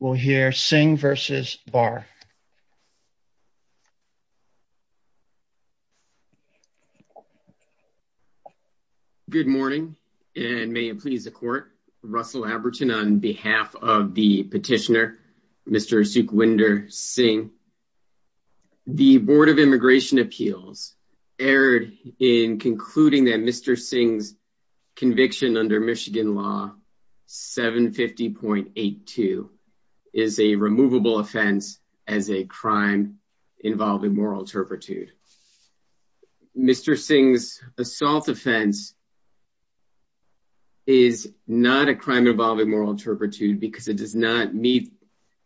will hear Singh versus Barr. Good morning, and may it please the court, Russell Abertin on behalf of the petitioner, Mr. Sukhwinder Singh. The Board of Immigration Appeals erred in concluding that Mr. Singh's Michigan Law 750.82 is a removable offense as a crime involving moral turpitude. Mr. Singh's assault offense is not a crime involving moral turpitude because it does not meet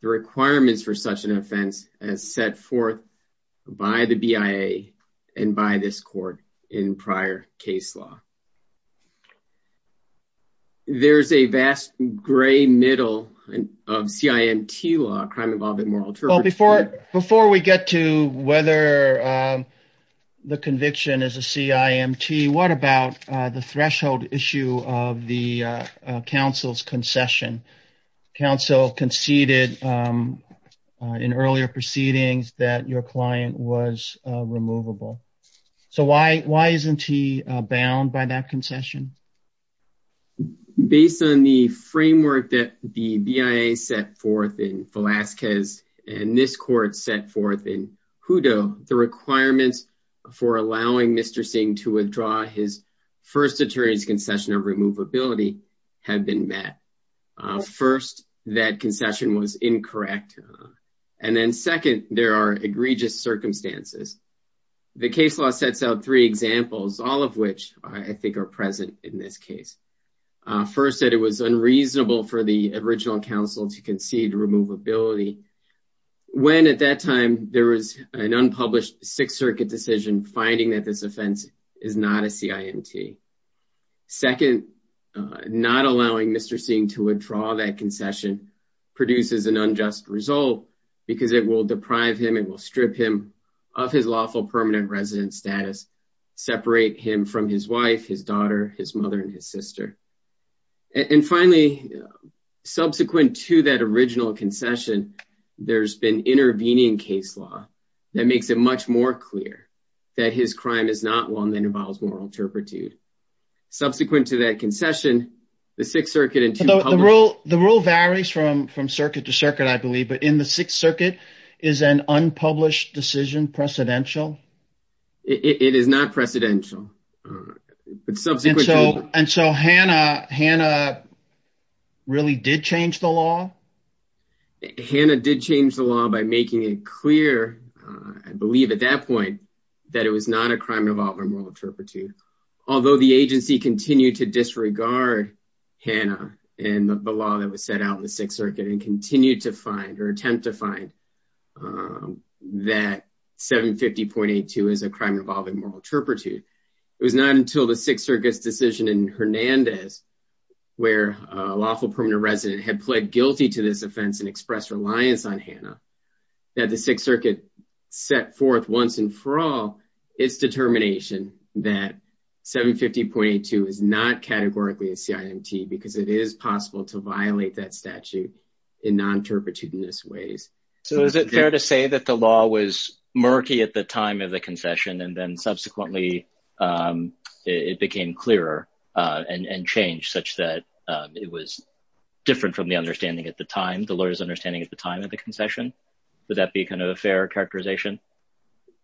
the requirements for such an offense as set forth by the BIA and by this court in prior case law. There's a vast gray middle of CIMT law, crime involved in moral turpitude. Before we get to whether the conviction is a CIMT, what about the threshold issue of the counsel's concession? Counsel conceded in earlier proceedings that your client was removable. So why isn't he bound by that concession? Based on the framework that the BIA set forth in Velazquez, and this court set forth in Hutto, the requirements for allowing Mr. Singh to withdraw his first attorney's concession of removability have been met. First, that concession was incorrect. And then second, there are egregious circumstances. The case law sets out three examples, all of which I think are present in this case. First, that it was unreasonable for the original counsel to concede removability, when at that time, there was an unpublished Sixth Circuit decision finding that this offense is not a CIMT. Second, not allowing Mr. Singh to withdraw that concession produces an unjust result, because it will deprive him, it will strip him of his lawful permanent resident status, separate him from his wife, his daughter, his mother, and his sister. And finally, subsequent to that original concession, there's been intervening case law that makes it much more clear that his crime is not one that involves moral turpitude. Subsequent to that concession, the Sixth Circuit and two The rule varies from from circuit to circuit, I believe, but in the Sixth Circuit, is an unpublished decision precedential? It is not precedential. But subsequently, so and so Hannah, Hannah really did change the law. Hannah did change the law by making it clear, I believe, at that point, that it was not a crime involving moral turpitude. Although the agency continued to disregard Hannah, and the law that was set out in the Sixth Circuit and continued to find or attempt to find that 750.82 is a crime involving moral turpitude. It was not until the Sixth Circuit's decision in Hernandez, where a lawful permanent resident had pled guilty to this offense and expressed reliance on Hannah, that the Sixth Circuit set forth once and for all, its determination that 750.82 is not categorically a CIMT, because it is possible to violate that statute in non turpitudinous ways. So is it fair to say that the law was murky at the time of the concession, and then subsequently, it became clearer, and change such that it was different from the understanding at the time the lawyers understanding at the time of the concession? Would that be kind of a fair characterization?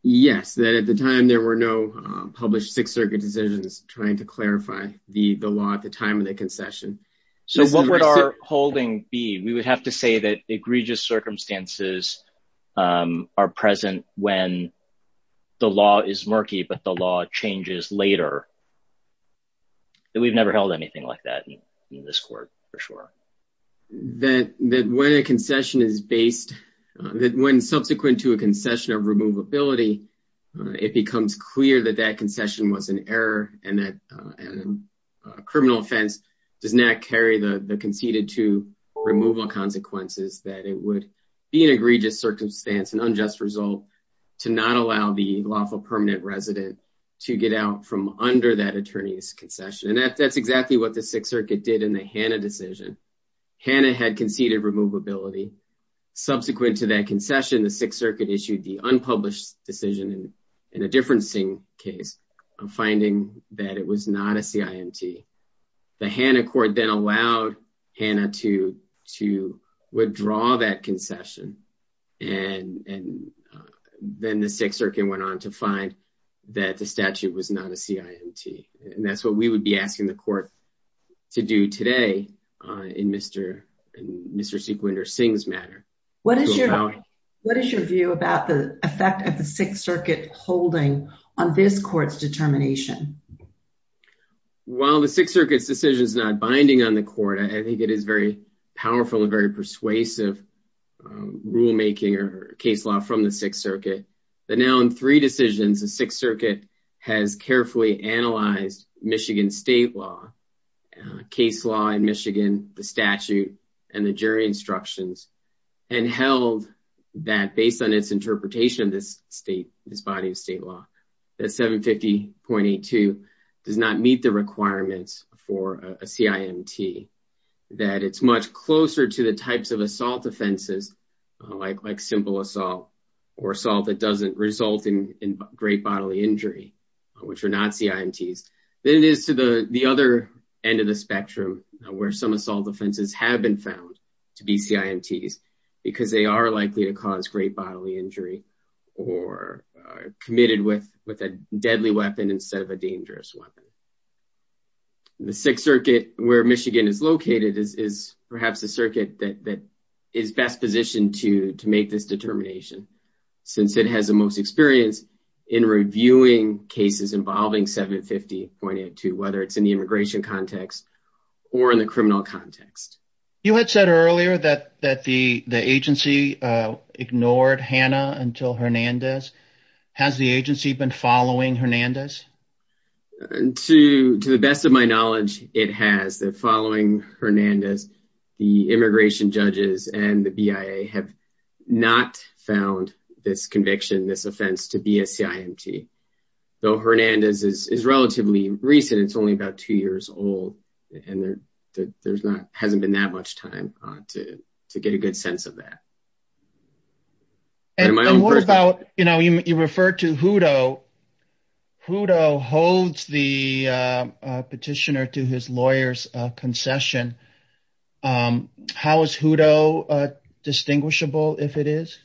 Yes, that at the time, there were no published Sixth Circuit decisions trying to clarify the the law at the time of the So what would our holding be, we would have to say that egregious circumstances are present when the law is murky, but the law changes later. That we've never held anything like that in this court, for sure. That that when a concession is based, that when subsequent to a concession of removability, it becomes clear that that concession was an error, and that a criminal offense does not carry the conceded to removal consequences that it would be an egregious circumstance and unjust result to not allow the lawful permanent resident to get out from under that attorney's concession. And that's exactly what the Sixth Circuit did in the Hanna decision. Hanna had conceded removability. Subsequent to that concession, the Sixth Circuit issued the unpublished decision in a differencing case, finding that it was not a CIMT. The Hanna court then allowed Hanna to withdraw that concession. And then the Sixth Circuit went on to find that the statute was not a CIMT. And that's what we would be asking the court to do today in Mr. Sequinder Singh's matter. What is your view about the effect of the Sixth Circuit holding on this court's determination? While the Sixth Circuit's decision is not binding on the court, I think it is very powerful and very persuasive rulemaking or case law from the Sixth Circuit. But now in three decisions, the Sixth Circuit has carefully analyzed Michigan state law, case law in Michigan, the statute, and the jury instructions, and held that based on its interpretation of this body of state law, that 750.82 does not meet the requirements for a CIMT. That it's much closer to the types of assault offenses, like simple assault, or assault that doesn't result in great bodily injury, which are not CIMTs, than it is to the other end of the spectrum, where some assault offenses have been found to be CIMTs, because they are likely to cause great bodily injury, or are committed with a deadly weapon instead of a dangerous weapon. The Sixth Circuit, where Michigan is located, is perhaps the circuit that is best positioned to make this determination, since it has the most experience in reviewing cases involving 750.82, whether it's in the immigration context, or in the criminal context. You had said earlier that the agency ignored Hannah until Hernandez. Has the agency been following Hernandez? To the best of my knowledge, it has. They're following Hernandez. The immigration judges and the BIA have not found this conviction, this offense, to be a CIMT. Though Hernandez is relatively recent, it's only about two years old, and there hasn't been that much time to get a good sense of that. And what about, you know, you referred to Hutto. Hutto holds the petitioner to his lawyer's concession. How is Hutto distinguishable, if it is?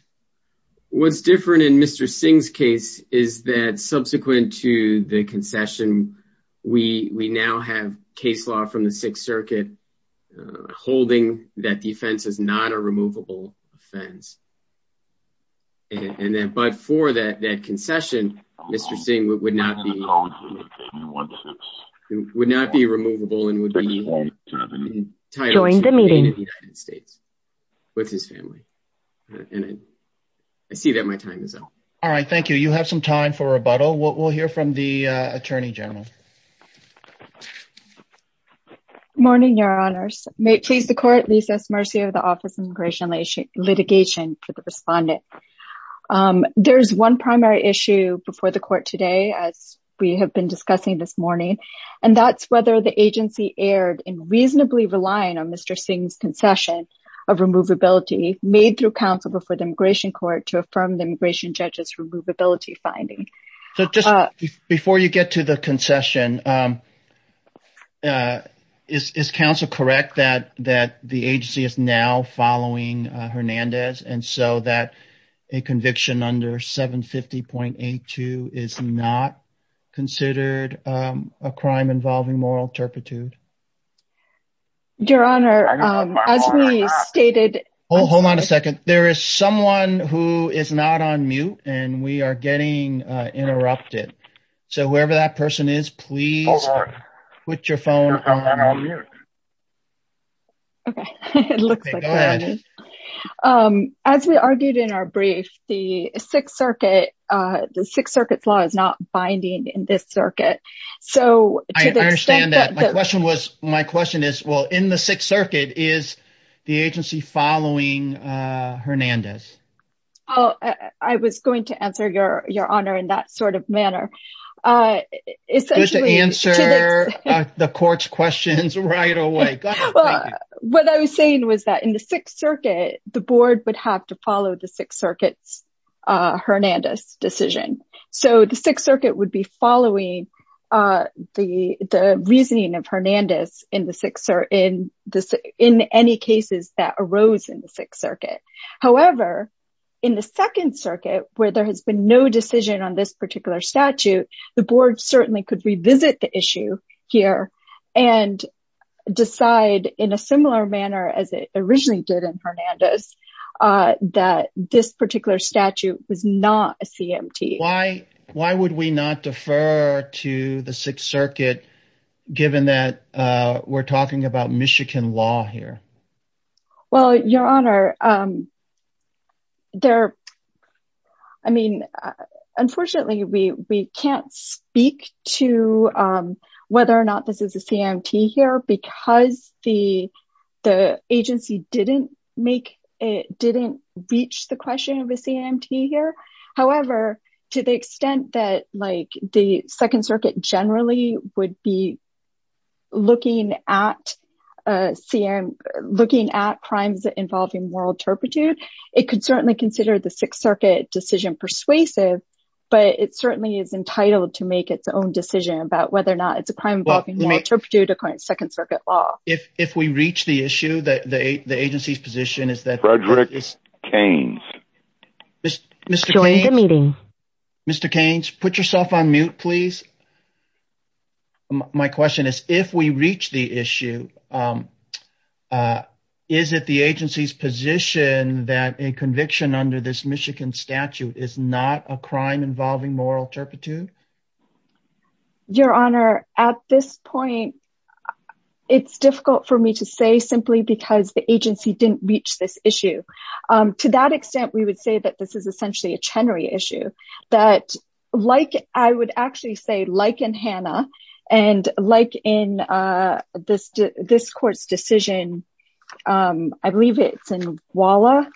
What's different in Mr. Singh's case is that subsequent to the Sixth Circuit, holding that defense is not a removable offense. And then, but for that concession, Mr. Singh would not be, would not be removable and would be entitled to remain in the United States with his family. And I see that my time is up. All right, thank you. You have some time for rebuttal. We'll hear from the Attorney General. Morning, Your Honors. May it please the Court, at least as mercy of the Office of Immigration Litigation for the respondent. There's one primary issue before the Court today, as we have been discussing this morning, and that's whether the agency erred in reasonably relying on Mr. Singh's concession of removability made through counsel before the Immigration Court to affirm the immigration judge's removability finding. So just before you get to the concession, is counsel correct that that the agency is now following Hernandez and so that a conviction under 750.82 is not considered a crime involving moral turpitude? Your Honor, as we stated... Oh, hold on a second. There is someone who is not on mute, and we are getting interrupted. So whoever that person is, please put your phone on mute. Okay, it looks like that. As we argued in our brief, the Sixth Circuit, the Sixth Circuit's law is not binding in this circuit. So... I understand that. My question was, my question is, well, in the Sixth Circuit, is the agency following Hernandez? I was going to answer, Your Honor, in that sort of manner. Essentially... Good to answer the court's questions right away. What I was saying was that in the Sixth Circuit, the board would have to follow the Sixth Circuit's Hernandez decision. So the Sixth Circuit would be following the reasoning of Hernandez in any cases that arose in the Sixth Circuit. However, in the Second Circuit, where there has been no decision on this particular statute, the board certainly could revisit the issue here and decide in a similar manner as it originally did in Hernandez, that this particular statute was not a CMT. Why would we not defer to the Sixth Circuit, given that we're talking about Michigan law here? Well, Your Honor, I mean, unfortunately, we can't speak to whether or not this is a CMT here because the agency didn't make it, didn't reach the question of a CMT here. However, to the extent that like the Second Circuit generally would be looking at crimes involving moral turpitude, it could certainly consider the Sixth Circuit decision persuasive, but it certainly is entitled to make its own decision about whether or not it's a crime involving moral turpitude according to Second Circuit law. If we reach the issue, the agency's position is that... Frederick Keynes. Mr. Keynes, put yourself on mute, please. My question is, if we reach the issue, is it the agency's position that a conviction under this Michigan statute is not a crime involving moral turpitude? Your Honor, at this point, it's difficult for me to say simply because the agency didn't reach this issue. To that extent, we would say that this is essentially a Chenery issue, that like, I would actually say like in Hanna and like in this court's decision, I believe it's in Walla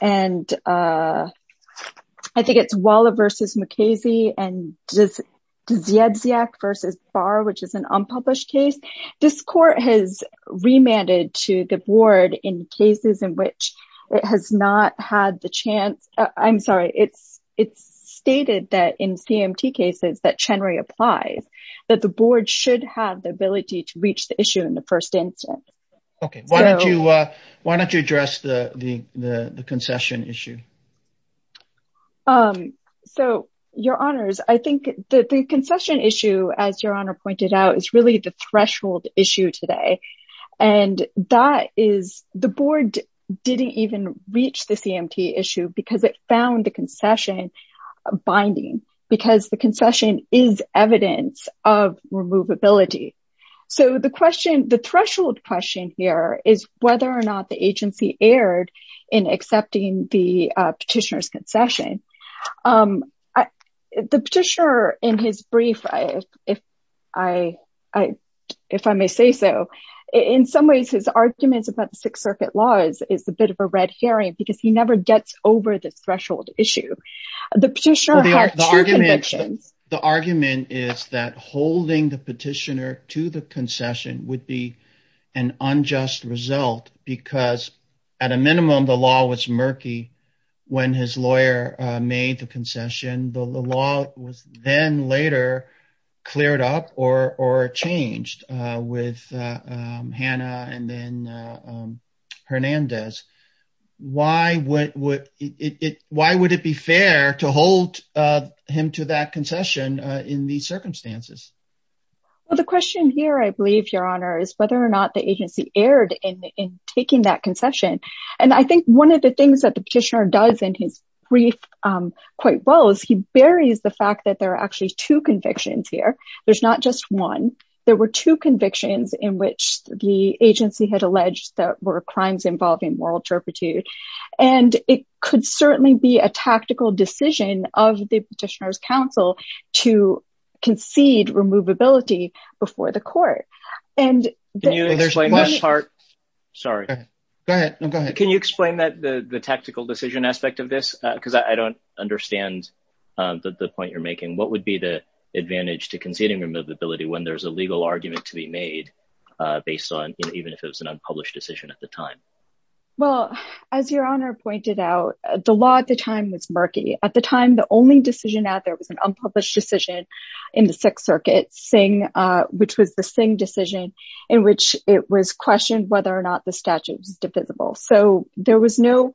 and I think it's Walla versus Mukasey and Ziedziak versus Barr, which is an unpublished case. This court has remanded to the board in cases in which it has not had the chance, I'm sorry, it's stated that in CMT cases that Chenery applies, that the board should have the ability to reach the issue in the first instance. Okay, why don't you address the concession issue? So, Your Honors, I think that the concession issue, as Your Honor pointed out, is really the threshold issue today. And that is, the board didn't even reach the CMT issue because it found the concession binding because the concession is evidence of removability. So, the question, the threshold question here is whether or not the agency is holding the petitioner to the concession. The petitioner, in his brief, if I may say so, in some ways, his arguments about the Sixth Circuit laws is a bit of a red herring because he never gets over this threshold issue. The petitioner had two convictions. The argument is that holding the petitioner to the concession would be an unjust result because at a minimum, the law was murky when his lawyer made the concession. The law was then later cleared up or changed with Hannah and then Hernandez. Why would it be fair to hold him to that concession in these circumstances? Well, the question here, I believe, Your Honor, is whether or not the agency erred in taking that concession. I think one of the things that the petitioner does in his brief quite well is he buries the fact that there are actually two convictions here. There's not just one. There were two convictions in which the agency had alleged that were crimes involving moral turpitude. It could certainly be a tactical decision of the petitioner's counsel to concede removability before the court. Can you explain the tactical decision aspect of this, because I don't understand the point you're making. What would be the advantage to conceding removability when there's a legal argument to be made based on even if it was an unpublished decision at the time? Well, as Your Honor pointed out, the law at the time was murky. At the time, the only decision out there was an unpublished decision in the Supreme Court, which was a ruling decision in which it was questioned whether or not the statute was divisible. So there was no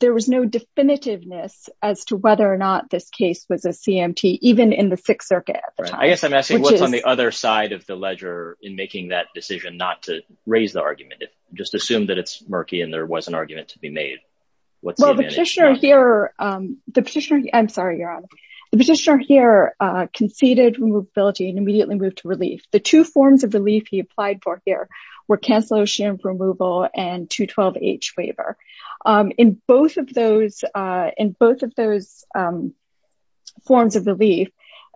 definitiveness as to whether or not this case was a CMT, even in the Sixth Circuit at the time. I guess I'm asking what's on the other side of the ledger in making that decision not to raise the argument, just assume that it's murky and there was an argument to be made. Well, the petitioner here conceded removability and immediately moved to two forms of relief he applied for here were cancellation of removal and 212-H waiver. In both of those forms of relief,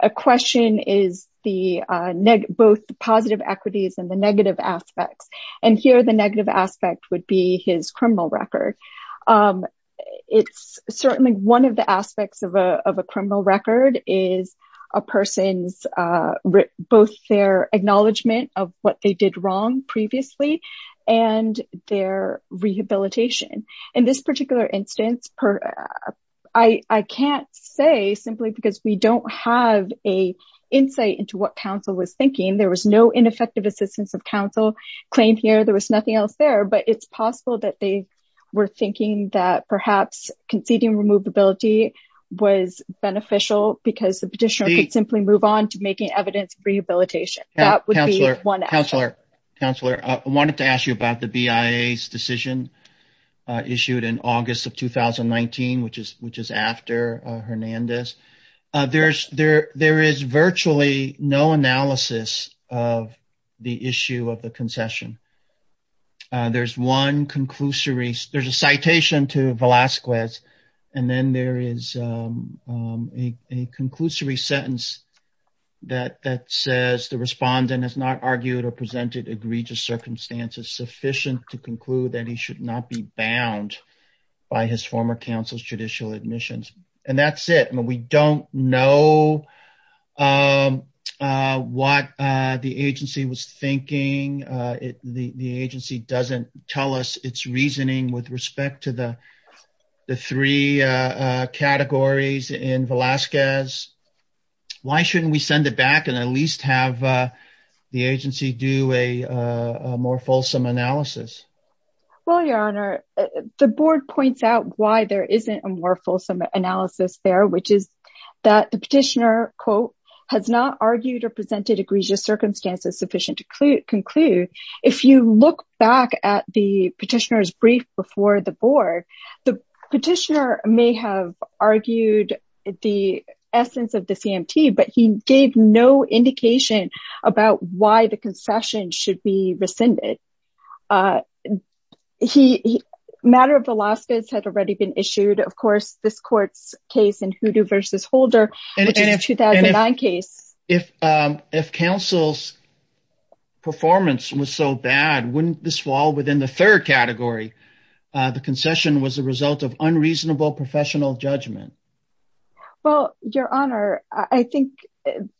a question is both the positive equities and the negative aspects. And here the negative aspect would be his criminal record. It's certainly one of the aspects of a criminal record is a person's both their acknowledgment of what they did wrong previously and their rehabilitation. In this particular instance, I can't say simply because we don't have a insight into what council was thinking. There was no ineffective assistance of council claim here. There was nothing else there. But it's possible that they were thinking that perhaps conceding removability was beneficial because the petitioner could simply move on to making evidence rehabilitation. That would be one. Counselor, I wanted to ask you about the BIA's decision issued in August of 2019, which is after Hernandez. There is virtually no analysis of the issue of the concession. There's one conclusory. There's a citation to Velasquez and then there is a conclusory sentence. That says the respondent has not argued or presented egregious circumstances sufficient to conclude that he should not be bound by his former council's judicial admissions. And that's it. And we don't know what the agency was thinking. The agency doesn't tell us its reasoning with respect to the three categories in Velasquez. Why shouldn't we send it back and at least have the agency do a more fulsome analysis? Well, Your Honor, the board points out why there isn't a more fulsome analysis there, which is that the petitioner, quote, has not argued or presented egregious circumstances sufficient to conclude. If you look back at the petitioner's brief before the board, the petitioner may have argued the essence of the CMT, but he gave no indication about why the concession should be rescinded. The matter of Velasquez had already been issued. Of course, this court's case in Hoodoo v. Holder, which is a 2009 case. If counsel's performance was so bad, wouldn't this fall within the third category? The concession was the result of unreasonable professional judgment. Well, Your Honor, I think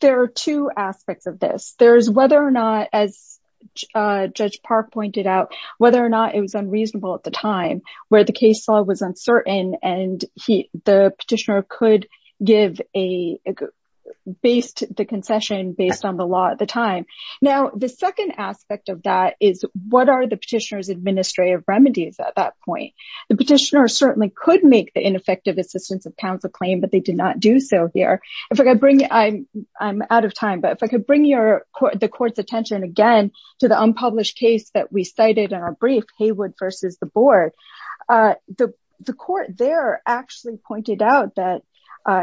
there are two aspects of this. There's whether or not, as Judge Park pointed out, whether or not it was unreasonable at the time where the case law was uncertain and the petitioner could give a based the concession based on the law at the time. Now, the second aspect of that is what are the petitioner's administrative remedies at that point? The petitioner certainly could make the ineffective assistance of counsel claim, but they did not do so here. If I could bring I'm out of time, but if I could bring the court's attention again to the unpublished case that we cited in our brief, Haywood v. the board, the court there actually pointed out that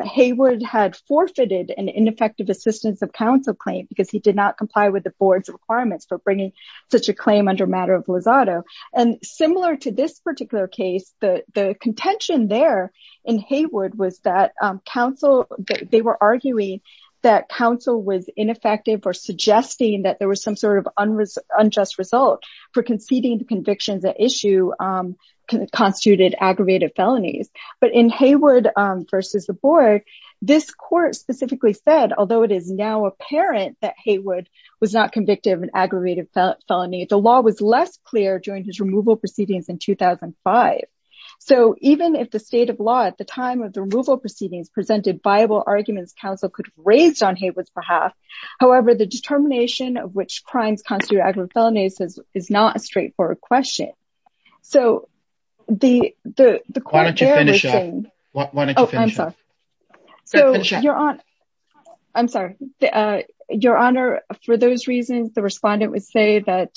Haywood had forfeited an ineffective assistance of counsel claim because he did not comply with the board's requirements for bringing such a claim under matter of Lozado. And similar to this particular case, the contention there in Haywood was that counsel, they were arguing that counsel was ineffective or suggesting that there was some sort of unjust result for conceding the convictions that issue constituted aggravated felonies. But in Haywood v. the board, this court specifically said, although it is now apparent that Haywood was not convicted of an aggravated felony, the law was less clear during his removal proceedings in 2005. So even if the state of law at the time of the removal proceedings presented viable arguments, counsel could have raised on Haywood's behalf. However, the determination of which crimes constituted aggravated felonies is not a straightforward question. So the, the, the. Why don't you finish up? Why don't you finish up? So you're on. I'm sorry, Your Honor, for those reasons, the respondent would say that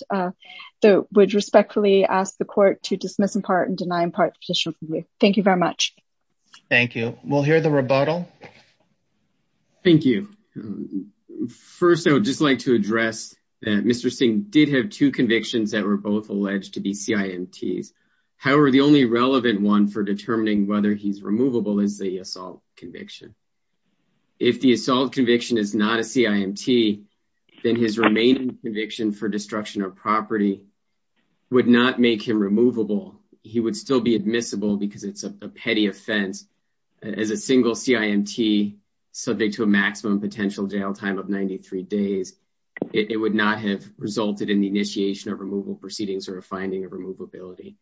they would respectfully ask the court to dismiss in part and deny in part the petition. Thank you very much. Thank you. We'll hear the rebuttal. Thank you. First, I would just like to address that Mr. Singh did have two convictions that were both alleged to be CIMTs. However, the only relevant one for determining whether he's removable is the assault conviction. If the assault conviction is not a CIMT, then his remaining conviction for destruction of property would not make him removable. He would still be admissible because it's a petty offense as a single CIMT subject to a maximum potential jail time of 93 days. It would not have resulted in the initiation of removal proceedings or a finding of removability.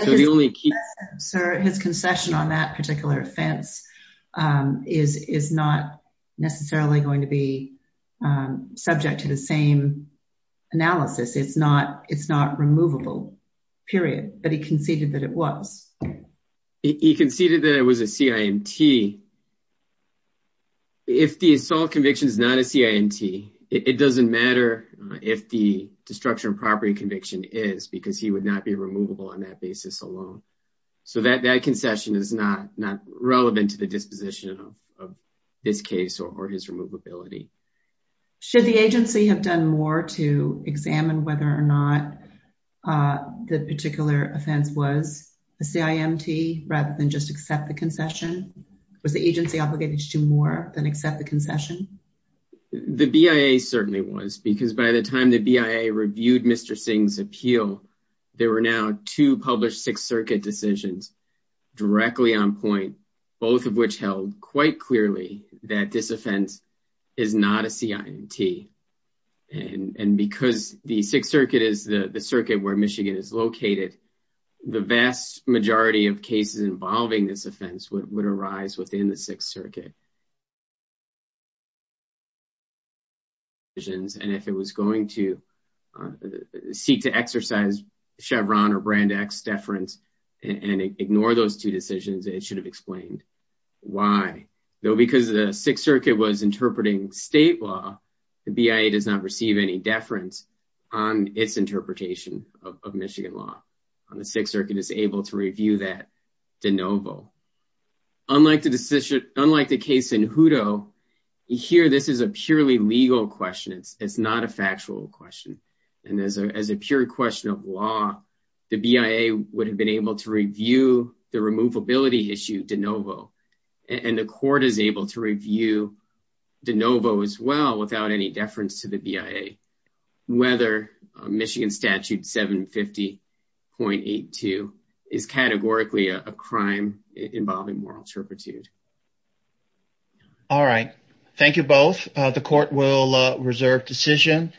So the only key... Sir, his concession on that particular offense is, is not necessarily going to be subject to the same analysis. It's not, it's not removable, period. But he conceded that it was. He conceded that it was a CIMT. If the assault conviction is not a CIMT, it doesn't matter if the destruction of property is not a CIMT, it's not going to make him removable on that basis alone. So that concession is not, not relevant to the disposition of this case or his removability. Should the agency have done more to examine whether or not the particular offense was a CIMT rather than just accept the concession? Was the agency obligated to do more than accept the concession? The BIA certainly was, because by the time the BIA reviewed Mr. Singh's appeal, there were now two published Sixth Circuit decisions directly on point, both of which held quite clearly that this offense is not a CIMT. And because the Sixth Circuit is the circuit where Michigan is located, the vast majority of cases involving this offense would arise within the Sixth Circuit. And if it was going to seek to exercise Chevron or Brand X deference and ignore those two decisions, it should have explained why, though, because the Sixth Circuit was interpreting state law, the BIA does not receive any deference on its interpretation of Michigan law. The Sixth Circuit is able to review that de novo. Unlike the decision, unlike the case in Hutto, here, this is a purely legal question. It's not a factual question. And as a as a pure question of law, the BIA would have been able to review the removability issue de novo. And the court is able to review de novo as well without any deference to the BIA. Whether Michigan statute 750.82 is categorically a crime involving moral turpitude. All right. Thank you both. The court will reserve decision.